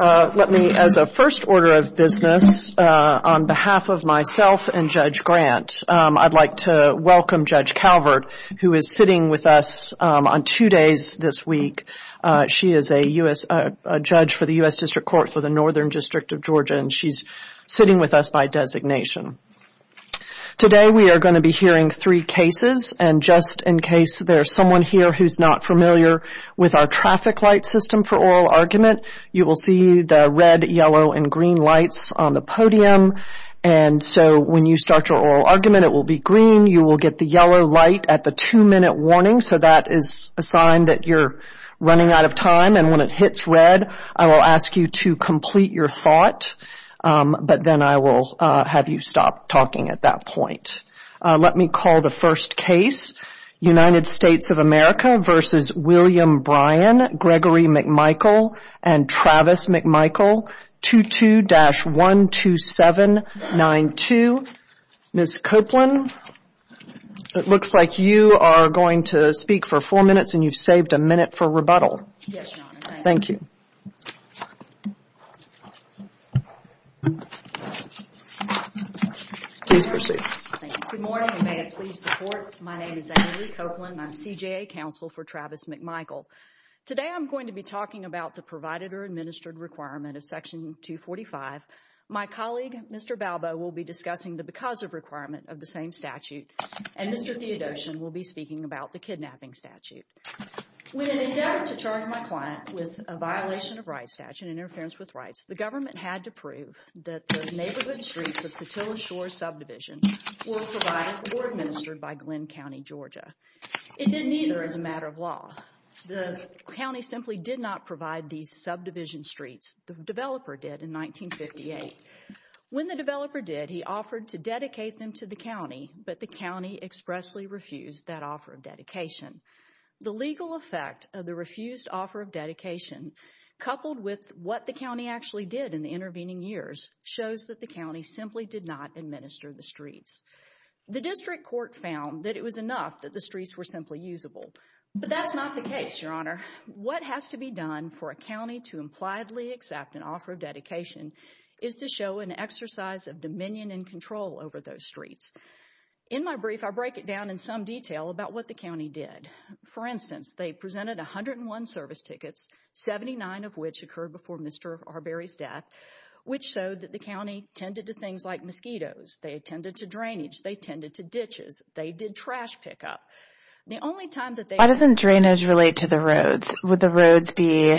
Let me, as a first order of business, on behalf of myself and Judge Grant, I'd like to welcome Judge Calvert, who is sitting with us on two days this week. She is a judge for the U.S. District Court for the Northern District of Georgia, and she's sitting with us by designation. Today we are going to be hearing three cases, and just in case there's someone here who's not familiar with our traffic light system for oral argument, you will see the red, yellow, and green lights on the podium, and so when you start your oral argument, it will be green. You will get the yellow light at the two-minute warning, so that is a sign that you're running out of time, and when it hits red, I will ask you to complete your thought, but then I will have you stop talking at that point. Let me call the first case, United States of America v. William Bryan, Gregory McMichael, and Travis McMichael, 22-12792. Ms. Copeland, it looks like you are going to speak for four minutes, and you've saved a minute for rebuttal. Yes, Your Honor. Thank you. Please proceed. Good morning, and may it please the Court. My name is Ann Marie Copeland, and I'm C.J. A. Counsel for Travis McMichael. Today, I'm going to be talking about the provided or administered requirement of Section 245. My colleague, Mr. Balbo, will be discussing the because of requirement of the same statute, and Mr. Theodosian will be speaking about the kidnapping statute. When in an attempt to charge my client with a violation of rights statute, interference with rights, the government had to prove that the neighborhood streets of Satilla Shore Subdivision were provided or administered by Glen County, Georgia. It didn't either as a matter of law. The county simply did not provide these subdivision streets. The developer did in 1958. When the developer did, he offered to dedicate them to the county, but the county expressly refused that offer of dedication. The legal effect of the refused offer of dedication, coupled with what the county actually did in the intervening years, shows that the county simply did not administer the streets. The district court found that it was enough that the streets were simply usable, but that's not the case, Your Honor. What has to be done for a county to impliedly accept an offer of dedication is to show an exercise of dominion and control over those streets. In my brief, I break it down in some detail about what the county did. For instance, they presented 101 service tickets, 79 of which occurred before Mr. Arberry's death, which showed that the county tended to things like mosquitoes. They tended to drainage. They tended to ditches. They did trash pickup. The only time that they- Why doesn't drainage relate to the roads? Would the roads be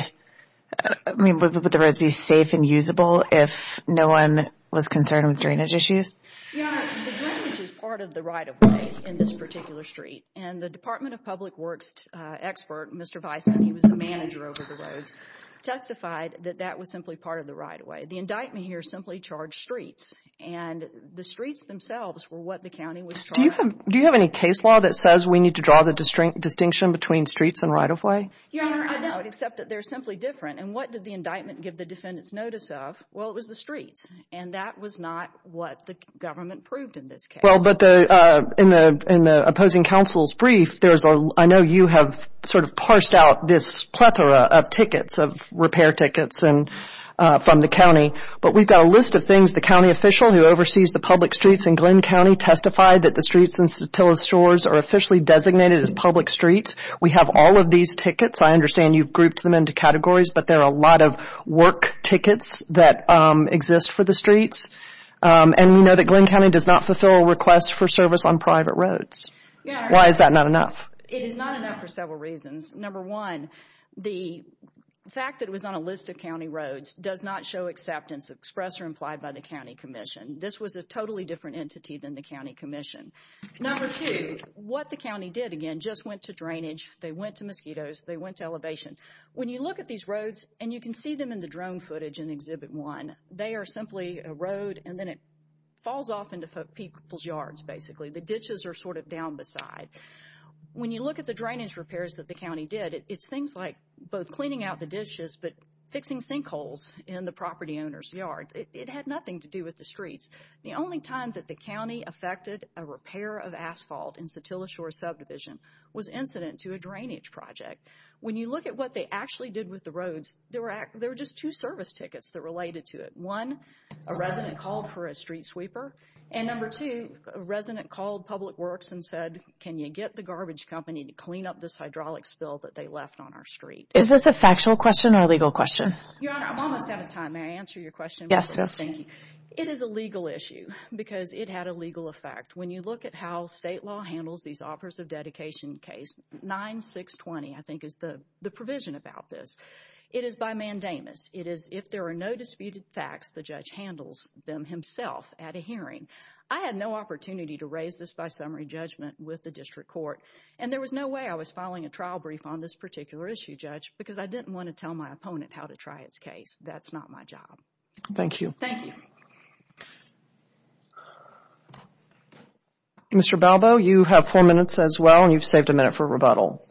safe and usable if no one was concerned with drainage issues? Your Honor, the drainage is part of the right of way in this particular street. The Department of Public Works expert, Mr. Bison, he was the manager over the roads, testified that that was simply part of the right of way. The indictment here simply charged streets, and the streets themselves were what the county was charging. Do you have any case law that says we need to draw the distinction between streets and right of way? Your Honor, I don't, except that they're simply different. What did the indictment give the defendant's notice of? It was the streets, and that was not what the government proved in this case. Well, but in the opposing counsel's brief, I know you have sort of parsed out this plethora of tickets, of repair tickets from the county, but we've got a list of things. The county official who oversees the public streets in Glynn County testified that the streets in Statilla Shores are officially designated as public streets. We have all of these tickets. I understand you've grouped them into categories, but there are a lot of work tickets that exist for the streets, and we know that Glynn County does not fulfill a request for service on private roads. Why is that not enough? It is not enough for several reasons. Number one, the fact that it was on a list of county roads does not show acceptance of express or implied by the county commission. This was a totally different entity than the county commission. Number two, what the county did, again, just went to drainage, they went to mosquitoes, they went to elevation. When you look at these roads, and you can see them in the drone footage in Exhibit 1, they are simply a road, and then it falls off into people's yards, basically. The ditches are sort of down beside. When you look at the drainage repairs that the county did, it's things like both cleaning out the dishes, but fixing sinkholes in the property owner's yard. It had nothing to do with the streets. The only time that the county affected a repair of asphalt in Statilla Shores subdivision was incident to a drainage project. When you look at what they actually did with the roads, there were just two service tickets that related to it. One, a resident called for a street sweeper, and number two, a resident called Public Works and said, can you get the garbage company to clean up this hydraulic spill that they left on our street? Is this a factual question or a legal question? Your Honor, I'm almost out of time. May I answer your question? Yes, please. Thank you. It is a legal issue because it had a legal effect. When you look at how state law handles these offers of dedication case, 9620, I think, is the provision about this. It is by mandamus. It is if there are no disputed facts, the judge handles them himself at a hearing. I had no opportunity to raise this by summary judgment with the district court, and there was no way I was filing a trial brief on this particular issue, Judge, because I didn't want to tell my opponent how to try its case. That's not my job. Thank you. Thank you. Mr. Balbo, you have four minutes as well, and you've saved a minute for rebuttal.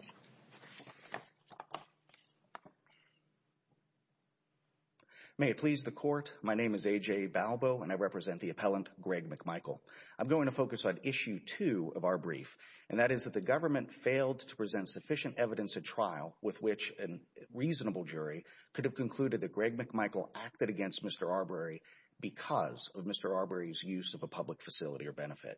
May it please the court. My name is A.J. Balbo, and I represent the appellant, Greg McMichael. I'm going to focus on issue two of our brief, and that is that the government failed to present sufficient evidence at trial with which a reasonable jury could have concluded that Greg McMichael acted against Mr. Arbery because of Mr. Arbery's use of a public facility or benefit.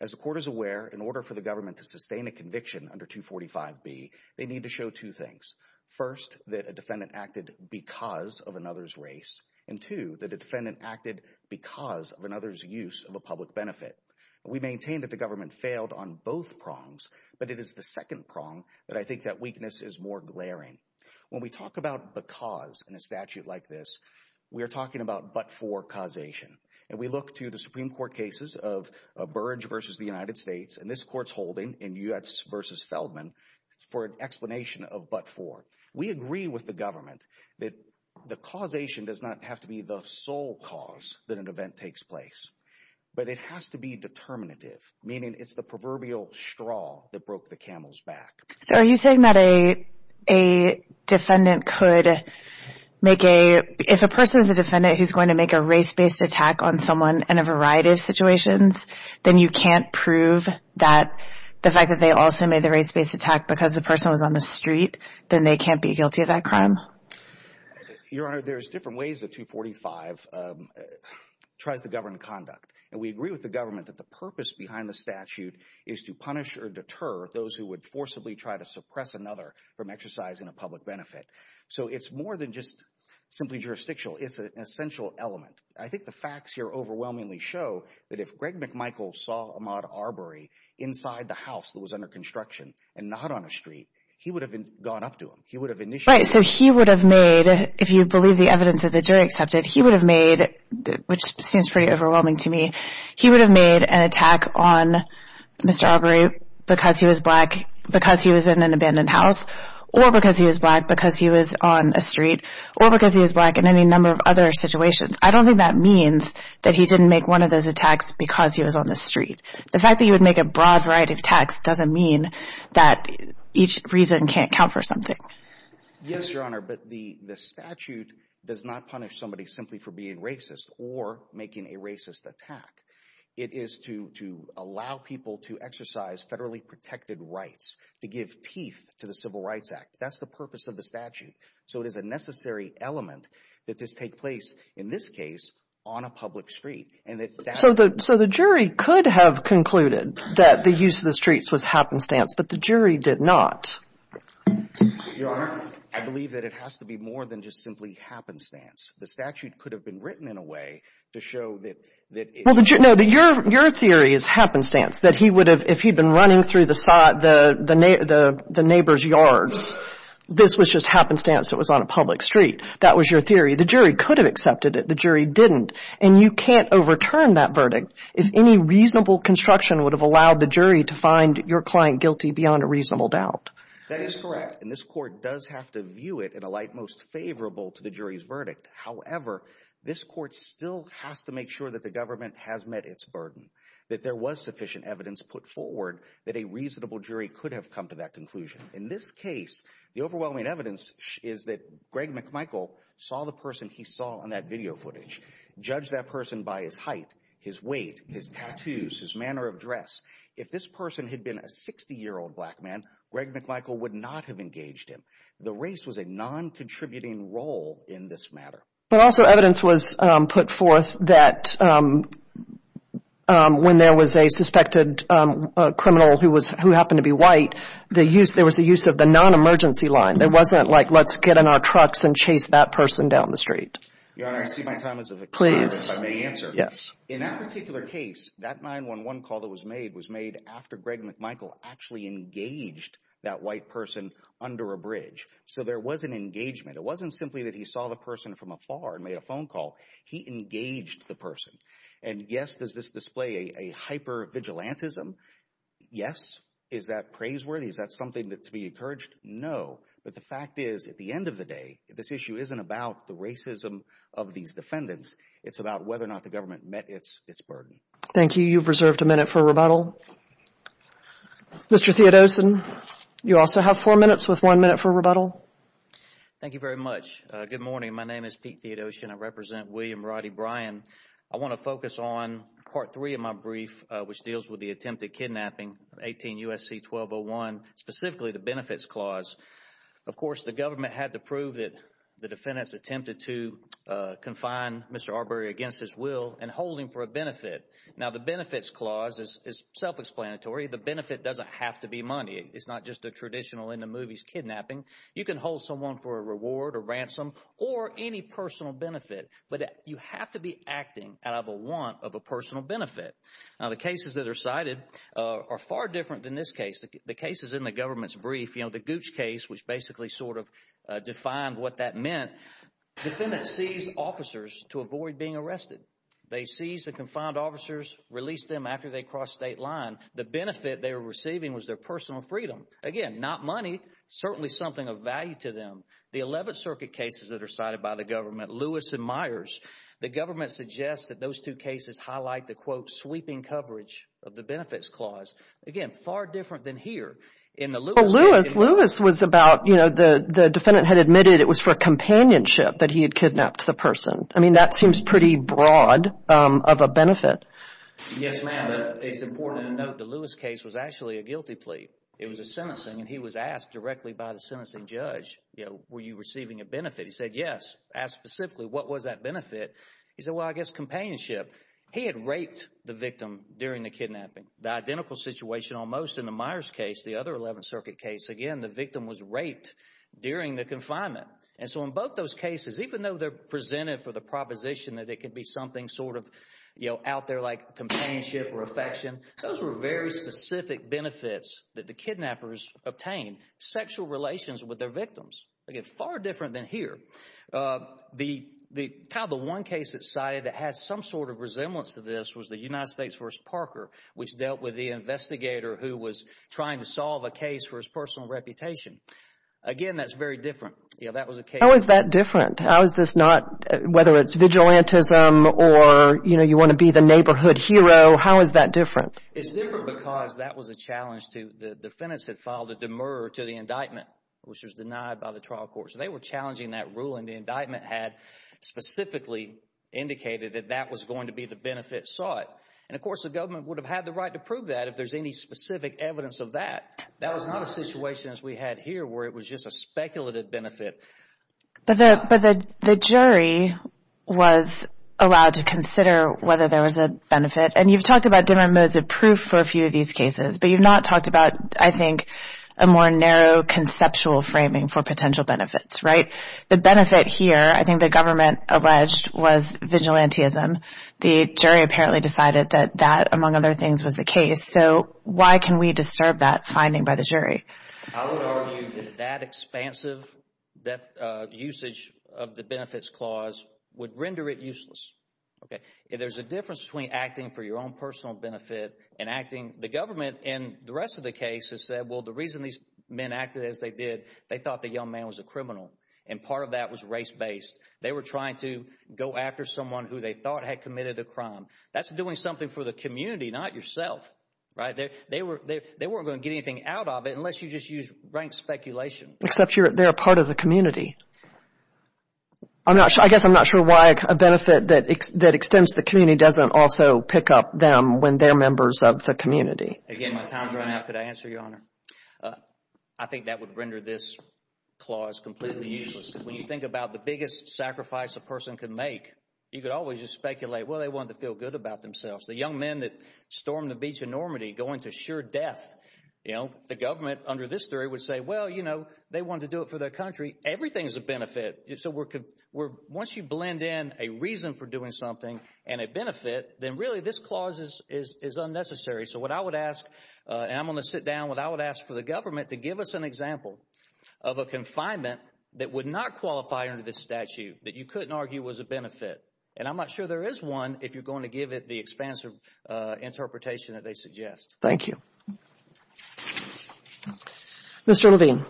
As the court is aware, in order for the government to sustain a conviction under 245B, they need to show two things. First, that a defendant acted because of another's race, and two, that a defendant acted because of another's use of a public benefit. We maintain that the government failed on both prongs, but it is the second prong that I think that weakness is more glaring. When we talk about because in a statute like this, we are talking about but-for causation, and we look to the Supreme Court cases of Burge versus the United States versus Feldman for an explanation of but-for. We agree with the government that the causation does not have to be the sole cause that an event takes place, but it has to be determinative, meaning it's the proverbial straw that broke the camel's back. So are you saying that a defendant could make a, if a person is a defendant who's going to make a race-based attack on someone in a variety of situations, then you can't prove that the fact that they also made the race-based attack because the person was on the street, then they can't be guilty of that crime? Your Honor, there's different ways that 245 tries to govern conduct, and we agree with the government that the purpose behind the statute is to punish or deter those who would forcibly try to suppress another from exercising a public benefit. So it's more than just simply jurisdictional. It's an essential element. I think the facts here overwhelmingly show that if Greg McMichael saw Ahmaud Arbery inside the house that was under construction and not on a street, he would have gone up to him. He would have initiated... Right. So he would have made, if you believe the evidence that the jury accepted, he would have made, which seems pretty overwhelming to me, he would have made an attack on Mr. Arbery because he was black, because he was in an abandoned house, or because he was black, because he was on a street, or because he was black in any number of other situations. I don't think that means that he didn't make one of those attacks because he was on the street. The fact that he would make a broad variety of attacks doesn't mean that each reason can't count for something. Yes, Your Honor, but the statute does not punish somebody simply for being racist or making a racist attack. It is to allow people to exercise federally protected rights, to give teeth to the Civil Rights Act. That's the purpose of the statute. So it is a necessary element that this take place, in this case, on a public street. So the jury could have concluded that the use of the streets was happenstance, but the jury did not. Your Honor, I believe that it has to be more than just simply happenstance. The statute could have been written in a way to show that it... No, but your theory is happenstance, that he would have, if he'd been running through the neighbor's yards, this was just happenstance. It was on a public street. That was your theory. The jury could have accepted it. The jury didn't. And you can't overturn that verdict if any reasonable construction would have allowed the jury to find your client guilty beyond a reasonable doubt. That is correct. And this court does have to view it in a light most favorable to the jury's verdict. However, this court still has to make sure that the government has met its burden, that there was sufficient evidence put forward, that a reasonable jury could have come to that conclusion. In this case, the overwhelming evidence is that Greg McMichael saw the person he saw on that video footage, judged that person by his height, his weight, his tattoos, his manner of dress. If this person had been a 60-year-old black man, Greg McMichael would not have engaged him. The race was a non-contributing role in this matter. But also evidence was put forth that when there was a suspected criminal who happened to be white, there was the use of the non-emergency line. It wasn't like, let's get in our trucks and chase that person down the street. Your Honor, I see my time is of the experiment, if I may answer. Please, yes. In that particular case, that 911 call that was made was made after Greg McMichael actually engaged that white person under a bridge. So there was an engagement. It wasn't simply that he saw the person from afar and made a phone call. He engaged the person. And yes, does this display a hyper-vigilantism? Yes. Is that praiseworthy? Is that something to be encouraged? No. But the fact is, at the end of the day, this issue isn't about the racism of these defendants. It's about whether or not the government met its burden. Thank you. You've reserved a minute for rebuttal. Mr. Theodosian, you also have four minutes with one minute for rebuttal. Thank you very much. Good morning. My name is Pete Theodosian. I represent William Roddy Bryan. I want to focus on part three of my brief, which deals with the attempted kidnapping, 18 U.S.C. 1201, specifically the benefits clause. Of course, the government had to prove that the defendants attempted to confine Mr. Arbery against his will and hold him for a benefit. Now, the benefits clause is self-explanatory. The benefit doesn't have to be money. It's you can hold someone for a reward, a ransom, or any personal benefit. But you have to be acting out of a want of a personal benefit. Now, the cases that are cited are far different than this case. The cases in the government's brief, you know, the Gooch case, which basically sort of defined what that meant, defendants seized officers to avoid being arrested. They seized the confined officers, released them after they crossed state line. The benefit they were receiving was their personal freedom. Again, not money, certainly something of value. To them, the 11th Circuit cases that are cited by the government, Lewis and Myers, the government suggests that those two cases highlight the, quote, sweeping coverage of the benefits clause. Again, far different than here. In the Lewis case... Well, Lewis, Lewis was about, you know, the defendant had admitted it was for companionship that he had kidnapped the person. I mean, that seems pretty broad of a benefit. Yes, ma'am. It's important to note the Lewis case was actually a guilty plea. It was a sentencing judge. You know, were you receiving a benefit? He said yes. Asked specifically what was that benefit. He said, well, I guess companionship. He had raped the victim during the kidnapping. The identical situation almost in the Myers case, the other 11th Circuit case. Again, the victim was raped during the confinement. And so in both those cases, even though they're presented for the proposition that it could be something sort of, you know, out there like companionship or affection, those were very specific benefits that the defendants had in their relations with their victims. Again, far different than here. The probably one case that's cited that has some sort of resemblance to this was the United States v. Parker, which dealt with the investigator who was trying to solve a case for his personal reputation. Again, that's very different. You know, that was a case... How is that different? How is this not, whether it's vigilantism or, you know, you want to be the neighborhood hero, how is that different? It's different because that was a challenge to, the defendants had filed a demur to the indictment, which was denied by the trial court. So they were challenging that rule and the indictment had specifically indicated that that was going to be the benefit sought. And of course, the government would have had the right to prove that if there's any specific evidence of that. That was not a situation as we had here where it was just a speculative benefit. But the jury was allowed to consider whether there was a benefit. And you've talked about different modes of proof for a few of these cases, but you've not talked about, I think, a more narrow conceptual framing for potential benefits, right? The benefit here, I think the government alleged, was vigilantism. The jury apparently decided that that, among other things, was the case. So why can we disturb that finding by the jury? I would argue that that expansive usage of the benefits clause would render it useless. There's a difference between acting for your own personal benefit and acting... The government and the rest of the case has said, well, the reason these men acted as they did, they thought the young man was a criminal. And part of that was race-based. They were trying to go after someone who they thought had committed a crime. That's doing something for the community, not yourself, right? They weren't going to get anything out of it unless you just used rank speculation. Except they're a part of the community. I guess I'm not sure why a benefit that extends to the community doesn't also pick up them when they're members of the community. Again, my time's running out. Could I answer, Your Honor? I think that would render this clause completely useless. When you think about the biggest sacrifice a person could make, you could always just speculate, well, they wanted to feel good about themselves. The young men that stormed the beach in Normandy going to sure death, you know, the government under this theory would say, well, you know, they wanted to do it for their country. Everything is a benefit. So once you blend in a reason for doing something and a benefit, then really this clause is unnecessary. So what I would ask, and I'm going to sit down, what I would ask for the government to give us an example of a confinement that would not qualify under this statute, that you couldn't argue was a benefit. And I'm not sure there is one if you're going to give it the expansive interpretation that they suggest. Thank you. Mr. Levine.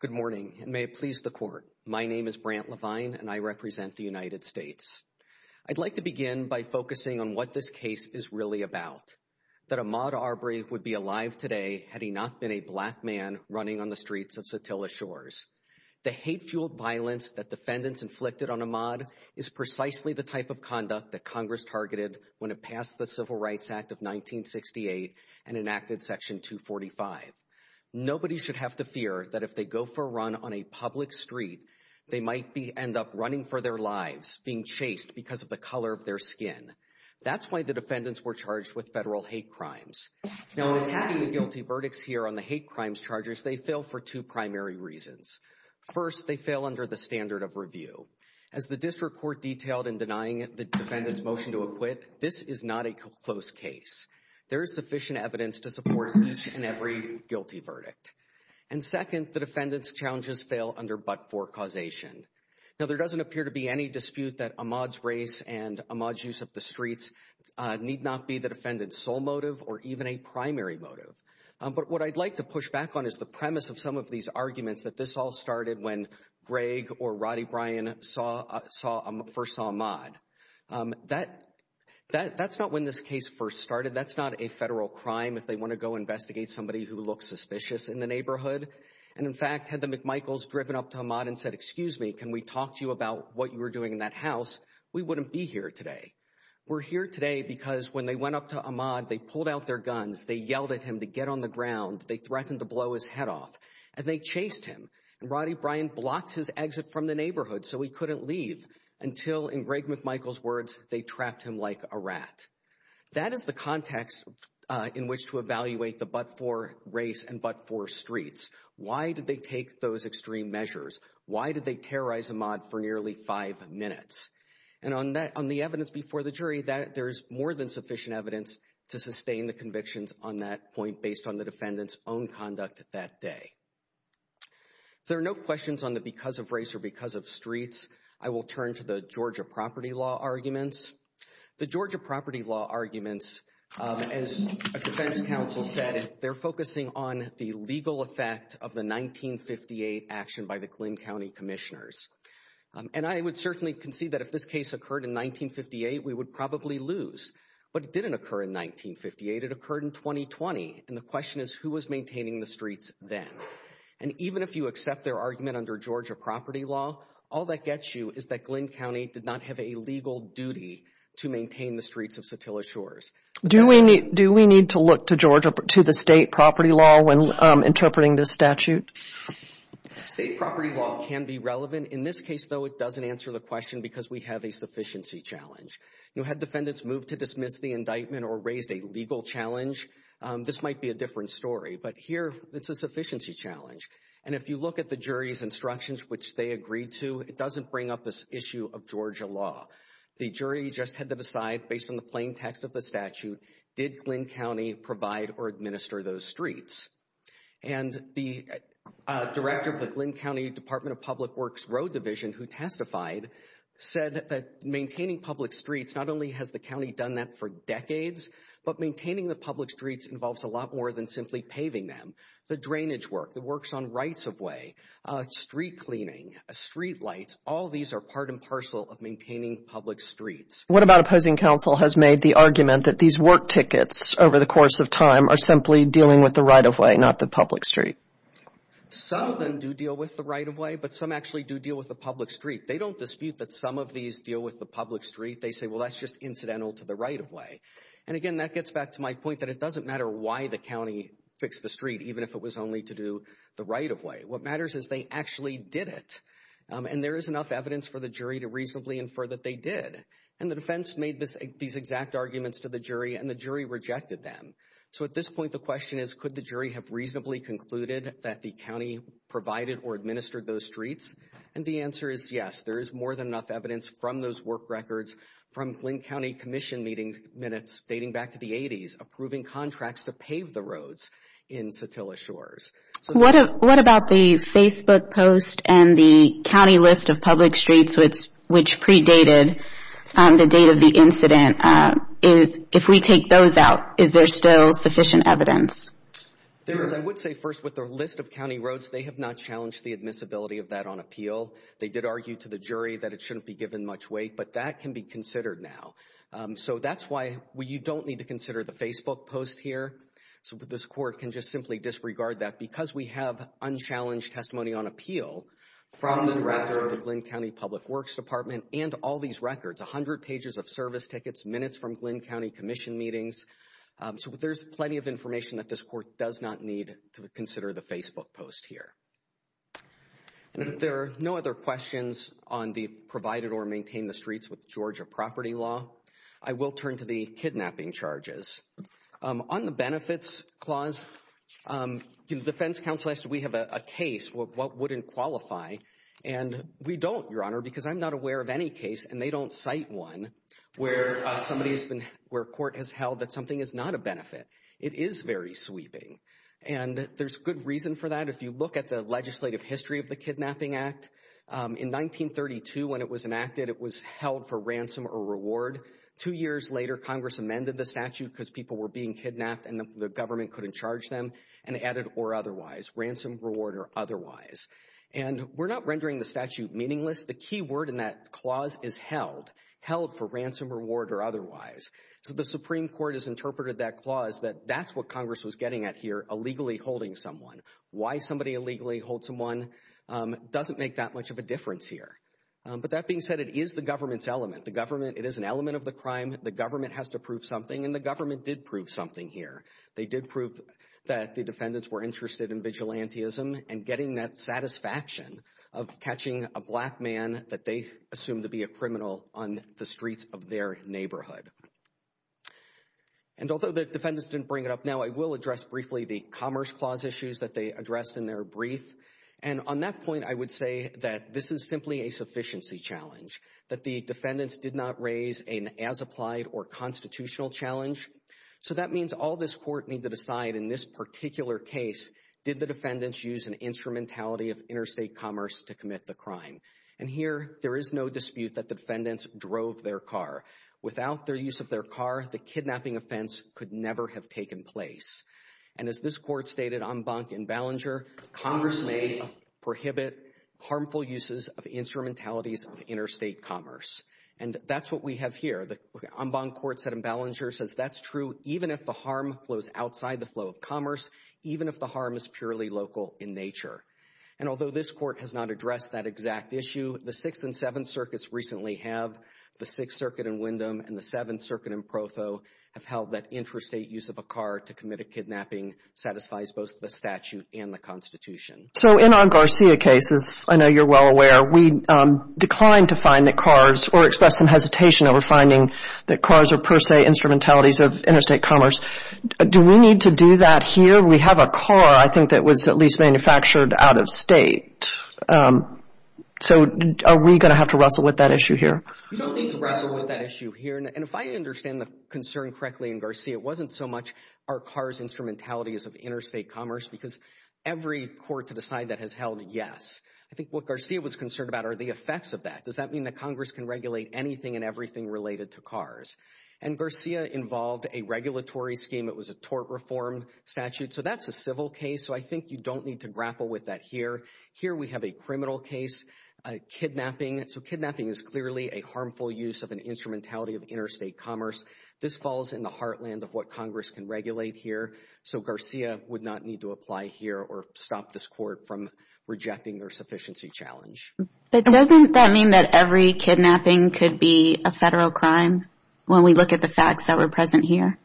Good morning, and may it please the court. My name is Brant Levine, and I represent the United States. I'd like to begin by focusing on what this case is really about, that Ahmaud Arbery would be alive today had he not been a black man running on the streets of Sotelo Shores. The hate-fueled violence that defendants inflicted on Ahmaud is precisely the type of conduct that Congress targeted when it passed the Civil Rights Act of 1968 and enacted Section 245. Nobody should have to fear that if they go for a run on a public street, they might end up running for their lives, being chased because of the color of their skin. That's why the defendants were charged with federal hate crimes. Now in all the guilty verdicts here on the hate crimes charges, they fail for two primary reasons. First, they fail under the standard of review. As the district court detailed in denying the defendant's motion to acquit, this is not a close case. There is sufficient evidence to support each and every guilty verdict. And second, the defendant's challenges fail under but-for causation. Now there doesn't appear to be any dispute that Ahmaud's race and Ahmaud's use of the streets need not be the defendant's sole motive or even a primary motive. But what I'd like to push back on is the premise of some of these arguments that this all started when Greg or Roddy Bryan first saw Ahmaud. That's not when this case first started. That's not a federal crime if they want to go investigate somebody who looks suspicious in the neighborhood. And in fact, had the McMichaels driven up to Ahmaud and said, excuse me, can we talk to you about what you were doing in that house, we wouldn't be here today. We're here today because when they went up to Ahmaud, they pulled out their guns, they yelled at him to get on the ground, they threatened to blow his head off. And they chased him. And Roddy Bryan blocked his exit from the neighborhood so he couldn't leave until, in Greg McMichael's words, they trapped him like a rat. That is the context in which to evaluate the but-for race and but-for streets. Why did they take those extreme measures? Why did they terrorize Ahmaud for nearly five minutes? And on the evidence before the jury, there's more than sufficient evidence to sustain the convictions on that point based on the defendant's own conduct that day. There are no questions on the because-of-race or because-of-streets. I will turn to the Georgia property law arguments. The Georgia property law arguments, as a defense counsel said, they're focusing on the legal effect of the 1958 action by the Glynn County Commissioners. And I would certainly concede that if this case occurred in 1958, we would probably lose. But it didn't occur in 1958, it occurred in 1920. And the question is, who was maintaining the streets then? And even if you accept their argument under Georgia property law, all that gets you is that Glynn County did not have a legal duty to maintain the streets of Satilla Shores. Do we need to look to Georgia, to the state property law when interpreting this statute? State property law can be relevant. In this case, though, it doesn't answer the question because we have a sufficiency challenge. You had defendants move to dismiss the indictment or raised a legal challenge. This might be a different story. But here, it's a sufficiency challenge. And if you look at the jury's instructions, which they agreed to, it doesn't bring up this issue of Georgia law. The jury just had to decide based on the plain text of the statute, did Glynn County provide or administer those streets? And the director of the Glynn County Department of Public Works Road Division, who testified, said that maintaining public streets, not only has the county done that for decades, but maintaining the public streets involves a lot more than simply paving them. The drainage work, the works on rights-of-way, street cleaning, street lights, all these are part and parcel of maintaining public streets. What about opposing counsel has made the argument that these work tickets over the course of time are simply dealing with the right-of-way, not the public street? Some of them do deal with the right-of-way, but some actually do deal with the public street. They say, well, that's just incidental to the right-of-way. And again, that gets back to my point that it doesn't matter why the county fixed the street, even if it was only to do the right-of-way. What matters is they actually did it. And there is enough evidence for the jury to reasonably infer that they did. And the defense made these exact arguments to the jury and the jury rejected them. So at this point, the question is, could the jury have reasonably concluded that the county provided or administered those streets? And the answer is yes. There is more than enough evidence from those work records, from Glynn County Commission meetings, minutes dating back to the 80s, approving contracts to pave the roads in Satilla Shores. What about the Facebook post and the county list of public streets, which predated the date of the incident? If we take those out, is there still sufficient evidence? There is. I would say first with the list of county roads, they have not challenged the admissibility of that on appeal. They did argue to the jury that it shouldn't be given much weight, but that can be considered now. So that's why you don't need to consider the Facebook post here. So this court can just simply disregard that because we have unchallenged testimony on appeal from the director of the Glynn County Public Works Department and all these records, 100 pages of service tickets, minutes from Glynn County Commission meetings. So there's plenty of information that this court does not need to consider the Facebook post here. There are no other questions on the provided or maintain the streets with Georgia property law. I will turn to the kidnapping charges. On the benefits clause, the defense counsel asked if we have a case, what wouldn't qualify? And we don't, Your Honor, because I'm not aware of any case, and they don't cite one, where court has held that something is not a benefit. It is very sweeping, and there's good reason for that. If you look at the legislative history of the Kidnapping Act, in 1932, when it was enacted, it was held for ransom or reward. Two years later, Congress amended the statute because people were being kidnapped and the government couldn't charge them, and added or otherwise, ransom, reward, or otherwise. And we're not rendering the statute meaningless. The key word in that clause is held, held for ransom, reward, or otherwise. So the Supreme Court has interpreted that clause that that's what Congress was getting at here, illegally holding someone. Why somebody illegally holds someone doesn't make that much of a difference here. But that being said, it is the government's element. The government, it is an element of the crime. The government has to prove something, and the government did prove something here. They did prove that the defendants were interested in vigilantism and getting that satisfaction of catching a black man that they assumed to be a criminal on the streets of their neighborhood. And although the defendants didn't bring it up now, I will address briefly the Commerce Clause issues that they addressed in their brief. And on that point, I would say that this is simply a sufficiency challenge, that the defendants did not raise an as-applied or constitutional challenge. So that means all this Court need to decide in this particular case, did the crime. And here, there is no dispute that the defendants drove their car. Without their use of their car, the kidnapping offense could never have taken place. And as this Court stated, Embank and Ballinger, Congress may prohibit harmful uses of instrumentalities of interstate commerce. And that's what we have here. The Embank Court said, and Ballinger says, that's true even if the harm flows outside the flow of commerce, even if the harm is not addressed, that exact issue, the Sixth and Seventh Circuits recently have, the Sixth Circuit in Wyndham and the Seventh Circuit in Provo have held that interstate use of a car to commit a kidnapping satisfies both the statute and the Constitution. So in our Garcia cases, I know you're well aware, we declined to find that cars or expressed some hesitation over finding that cars are per se instrumentalities of interstate commerce. Do we need to do that here? We have a car, I think, that was at least manufactured out of state. So are we going to have to wrestle with that issue here? You don't need to wrestle with that issue here. And if I understand the concern correctly in Garcia, it wasn't so much are cars instrumentalities of interstate commerce because every court to decide that has held yes. I think what Garcia was concerned about are the effects of that. Does that mean that Congress can regulate anything and everything related to cars? And Garcia involved a regulatory scheme. It was a tort reform statute. So that's a concern here. Here we have a criminal case, kidnapping. So kidnapping is clearly a harmful use of an instrumentality of interstate commerce. This falls in the heartland of what Congress can regulate here. So Garcia would not need to apply here or stop this court from rejecting their sufficiency challenge. But doesn't that mean that every kidnapping could be a federal crime when we look at the facts that were present here?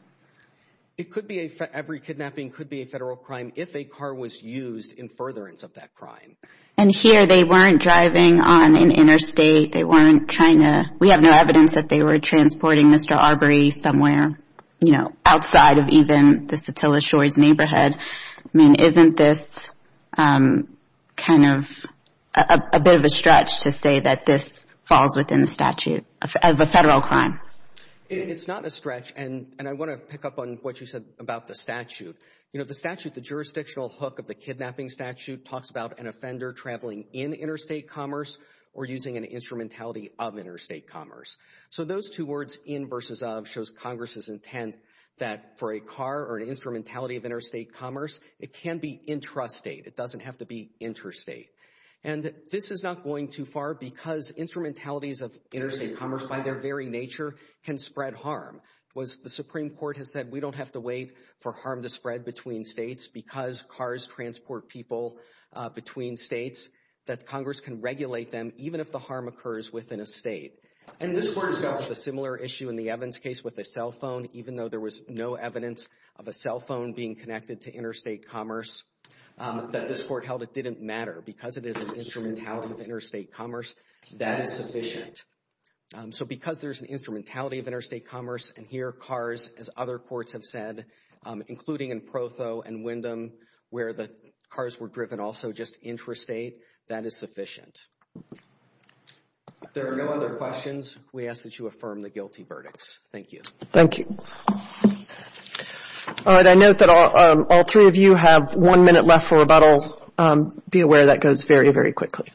It could be a, every kidnapping could be a federal crime if a car was used in furtherance of that crime. And here they weren't driving on an interstate. They weren't trying to, we have no evidence that they were transporting Mr. Arbery somewhere, you know, outside of even the Satilla Shores neighborhood. I mean, isn't this kind of a bit of a stretch to say that this falls within the statute of a federal crime? It's not a stretch. And I want to pick up on what you said about the statute. You know, the statute, the jurisdictional hook of the kidnapping statute talks about an offender traveling in interstate commerce or using an instrumentality of interstate commerce. So those two words in versus of shows Congress's intent that for a car or an instrumentality of interstate commerce, it can be intrastate. It doesn't have to be interstate. And this is not going too far because instrumentalities of interstate commerce by their very nature can spread harm. The Supreme Court has said we don't have to wait for harm to spread between states because cars transport people between states that Congress can regulate them even if the harm occurs within a state. And this court has dealt with a similar issue in the Evans case with a cell phone, even though there was no evidence of a cell phone being connected to interstate commerce that this court held it didn't matter because it is an instrumentality of interstate commerce that is sufficient. So because there's an instrumentality of interstate commerce and here cars, as other courts have said, including in Protho and Wyndham, where the cars were driven also just intrastate, that is sufficient. If there are no other questions, we ask that you affirm the guilty verdicts. Thank you. Thank you. All right. I note that all three of you have one minute left for rebuttal. Be aware that goes very, very quickly.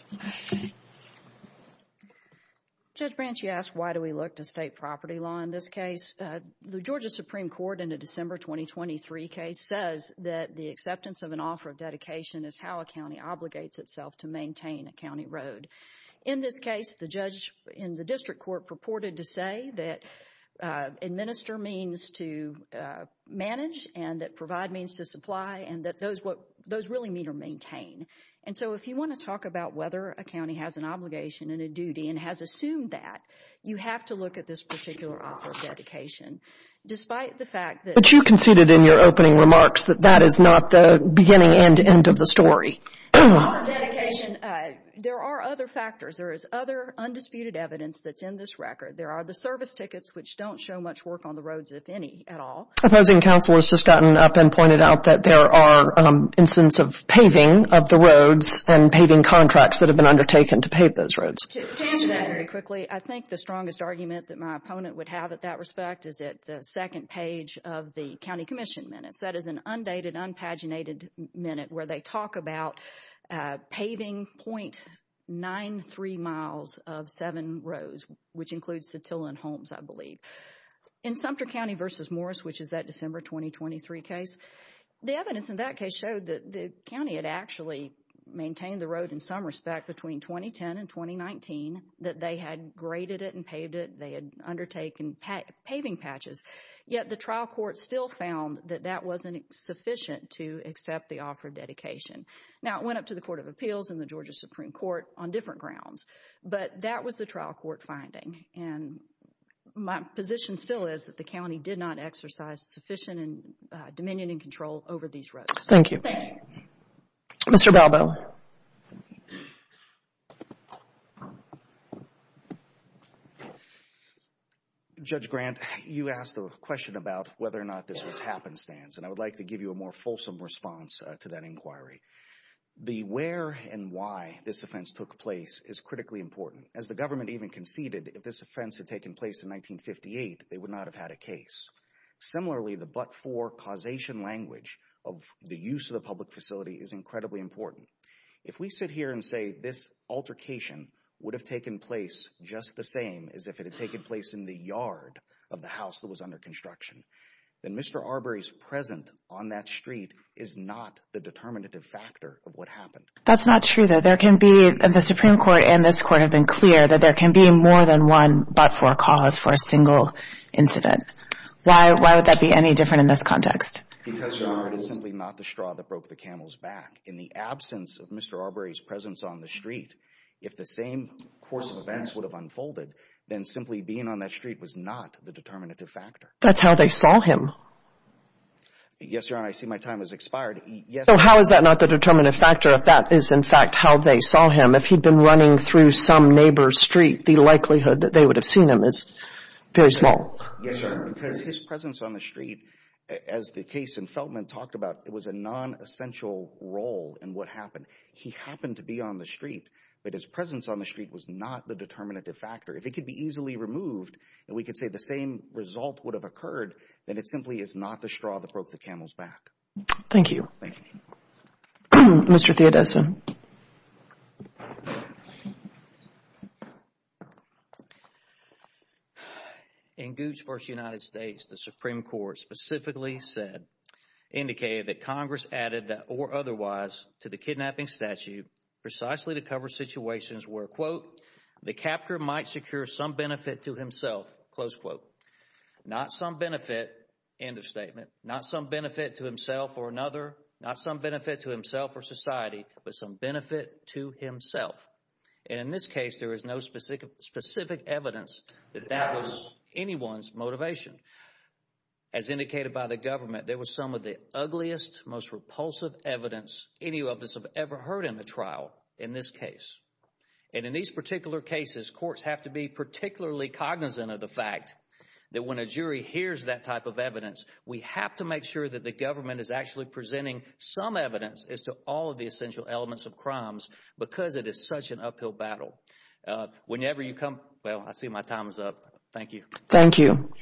Judge Branch, you asked why do we look to state property law in this case? The Georgia Supreme Court in a December 2023 case says that the acceptance of an offer of dedication is how a county obligates itself to maintain a county road. In this case, the judge in the district court purported to say that administer means to manage and that provide means to supply and that those what those really mean are maintain. And so if you want to talk about whether a county has an obligation and a duty and has assumed that, you have to look at this particular offer of dedication. Despite the fact that... But you conceded in your opening remarks that that is not the beginning and end of the story. There are other factors. There is other undisputed evidence that's in this record. There are the service tickets, which don't show much work on the roads, if any, at all. Opposing counsel has just gotten up and pointed out that there are instances of paving of the roads and paving contracts that have been undertaken to pave those roads. To answer that very quickly, I think the strongest argument that my opponent would have at that respect is at the second page of the county commission minutes. That is an undated, unpaginated minute where they talk about paving .93 miles of seven roads, which includes Satilla and Holmes, I believe. In Sumter County v. Morris, which is that December 2023 case, the evidence in that case showed that the county had actually maintained the road in some respect between 2010 and 2019, that they had graded it and paved it, they had undertaken paving patches, yet the trial court still found that that wasn't sufficient to accept the offer of dedication. Now, it went up to the Court of Appeals and the Georgia Supreme Court on different grounds, but that was the trial court finding. My position still is that the county did not exercise sufficient dominion and control over these risks. Thank you. Thank you. Mr. Balbo. Judge Grant, you asked a question about whether or not this was happenstance, and I would like to give you a more fulsome response to that inquiry. The where and why this offense took place is critically important. As the government even conceded, if this offense had taken place in 1958, they would not have had a case. Similarly, the but-for causation language of the use of the public facility is incredibly important. If we sit here and say this altercation would have taken place just the same as if it had taken place in the yard of the house that was under construction, then Mr. Arbery's presence on that street is not the determinative factor of what happened. That's not true, though. There can be, the Supreme Court and this Court have been clear that there can be more than one but-for cause for a single incident. Why would that be any different in this context? Because, Your Honor, it is simply not the straw that broke the camel's back. In the absence of Mr. Arbery's presence on the street, if the same course of events would have unfolded, then simply being on that street was not the determinative factor. That's how they saw him. Yes, Your Honor. I see my time has expired. Yes, Your Honor. So how is that not the determinative factor if that is, in fact, how they saw him? If he'd been running through some neighbor's street, the likelihood that they would have seen him is very small. Yes, Your Honor. Because his presence on the street, as the case in Feltman talked about, it was a nonessential role in what happened. He happened to be on the street, but his presence on the street was not the determinative factor. If it could be easily removed and we could say the same result would have occurred, then it simply is not the straw that broke the camel's back. Thank you. Thank you. Mr. Theodosia. In Gooch v. United States, the Supreme Court specifically said, indicated that Congress added that or otherwise to the kidnapping statute precisely to cover situations where, quote, the captor might secure some benefit to himself, close quote. Not some benefit, end of statement, not some benefit to himself or another, not some benefit to himself or society, but some benefit to himself. And in this case, there is no specific evidence that that was anyone's motivation. As indicated by the government, there was some of the ugliest, most repulsive evidence any of us have ever heard in the trial in this case. And in these particular cases, courts have to be particularly cognizant of the fact that when a jury hears that type of evidence, we have to make sure that the government is actually providing some evidence as to all of the essential elements of crimes because it is such an uphill battle. Whenever you come, well, I see my time is up. Thank you. Thank you.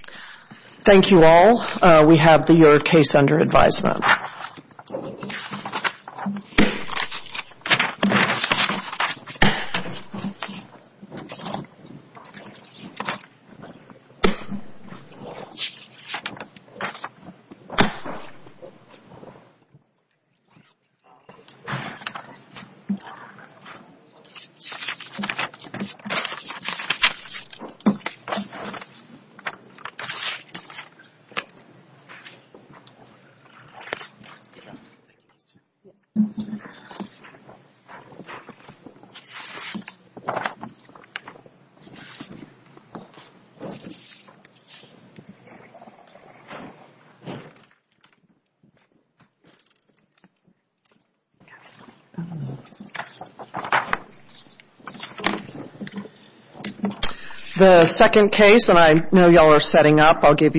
Thank you all. We have your case under advisement. Yes. Thank you. Thank you. The second case, and I know y'all are setting up, I'll give you a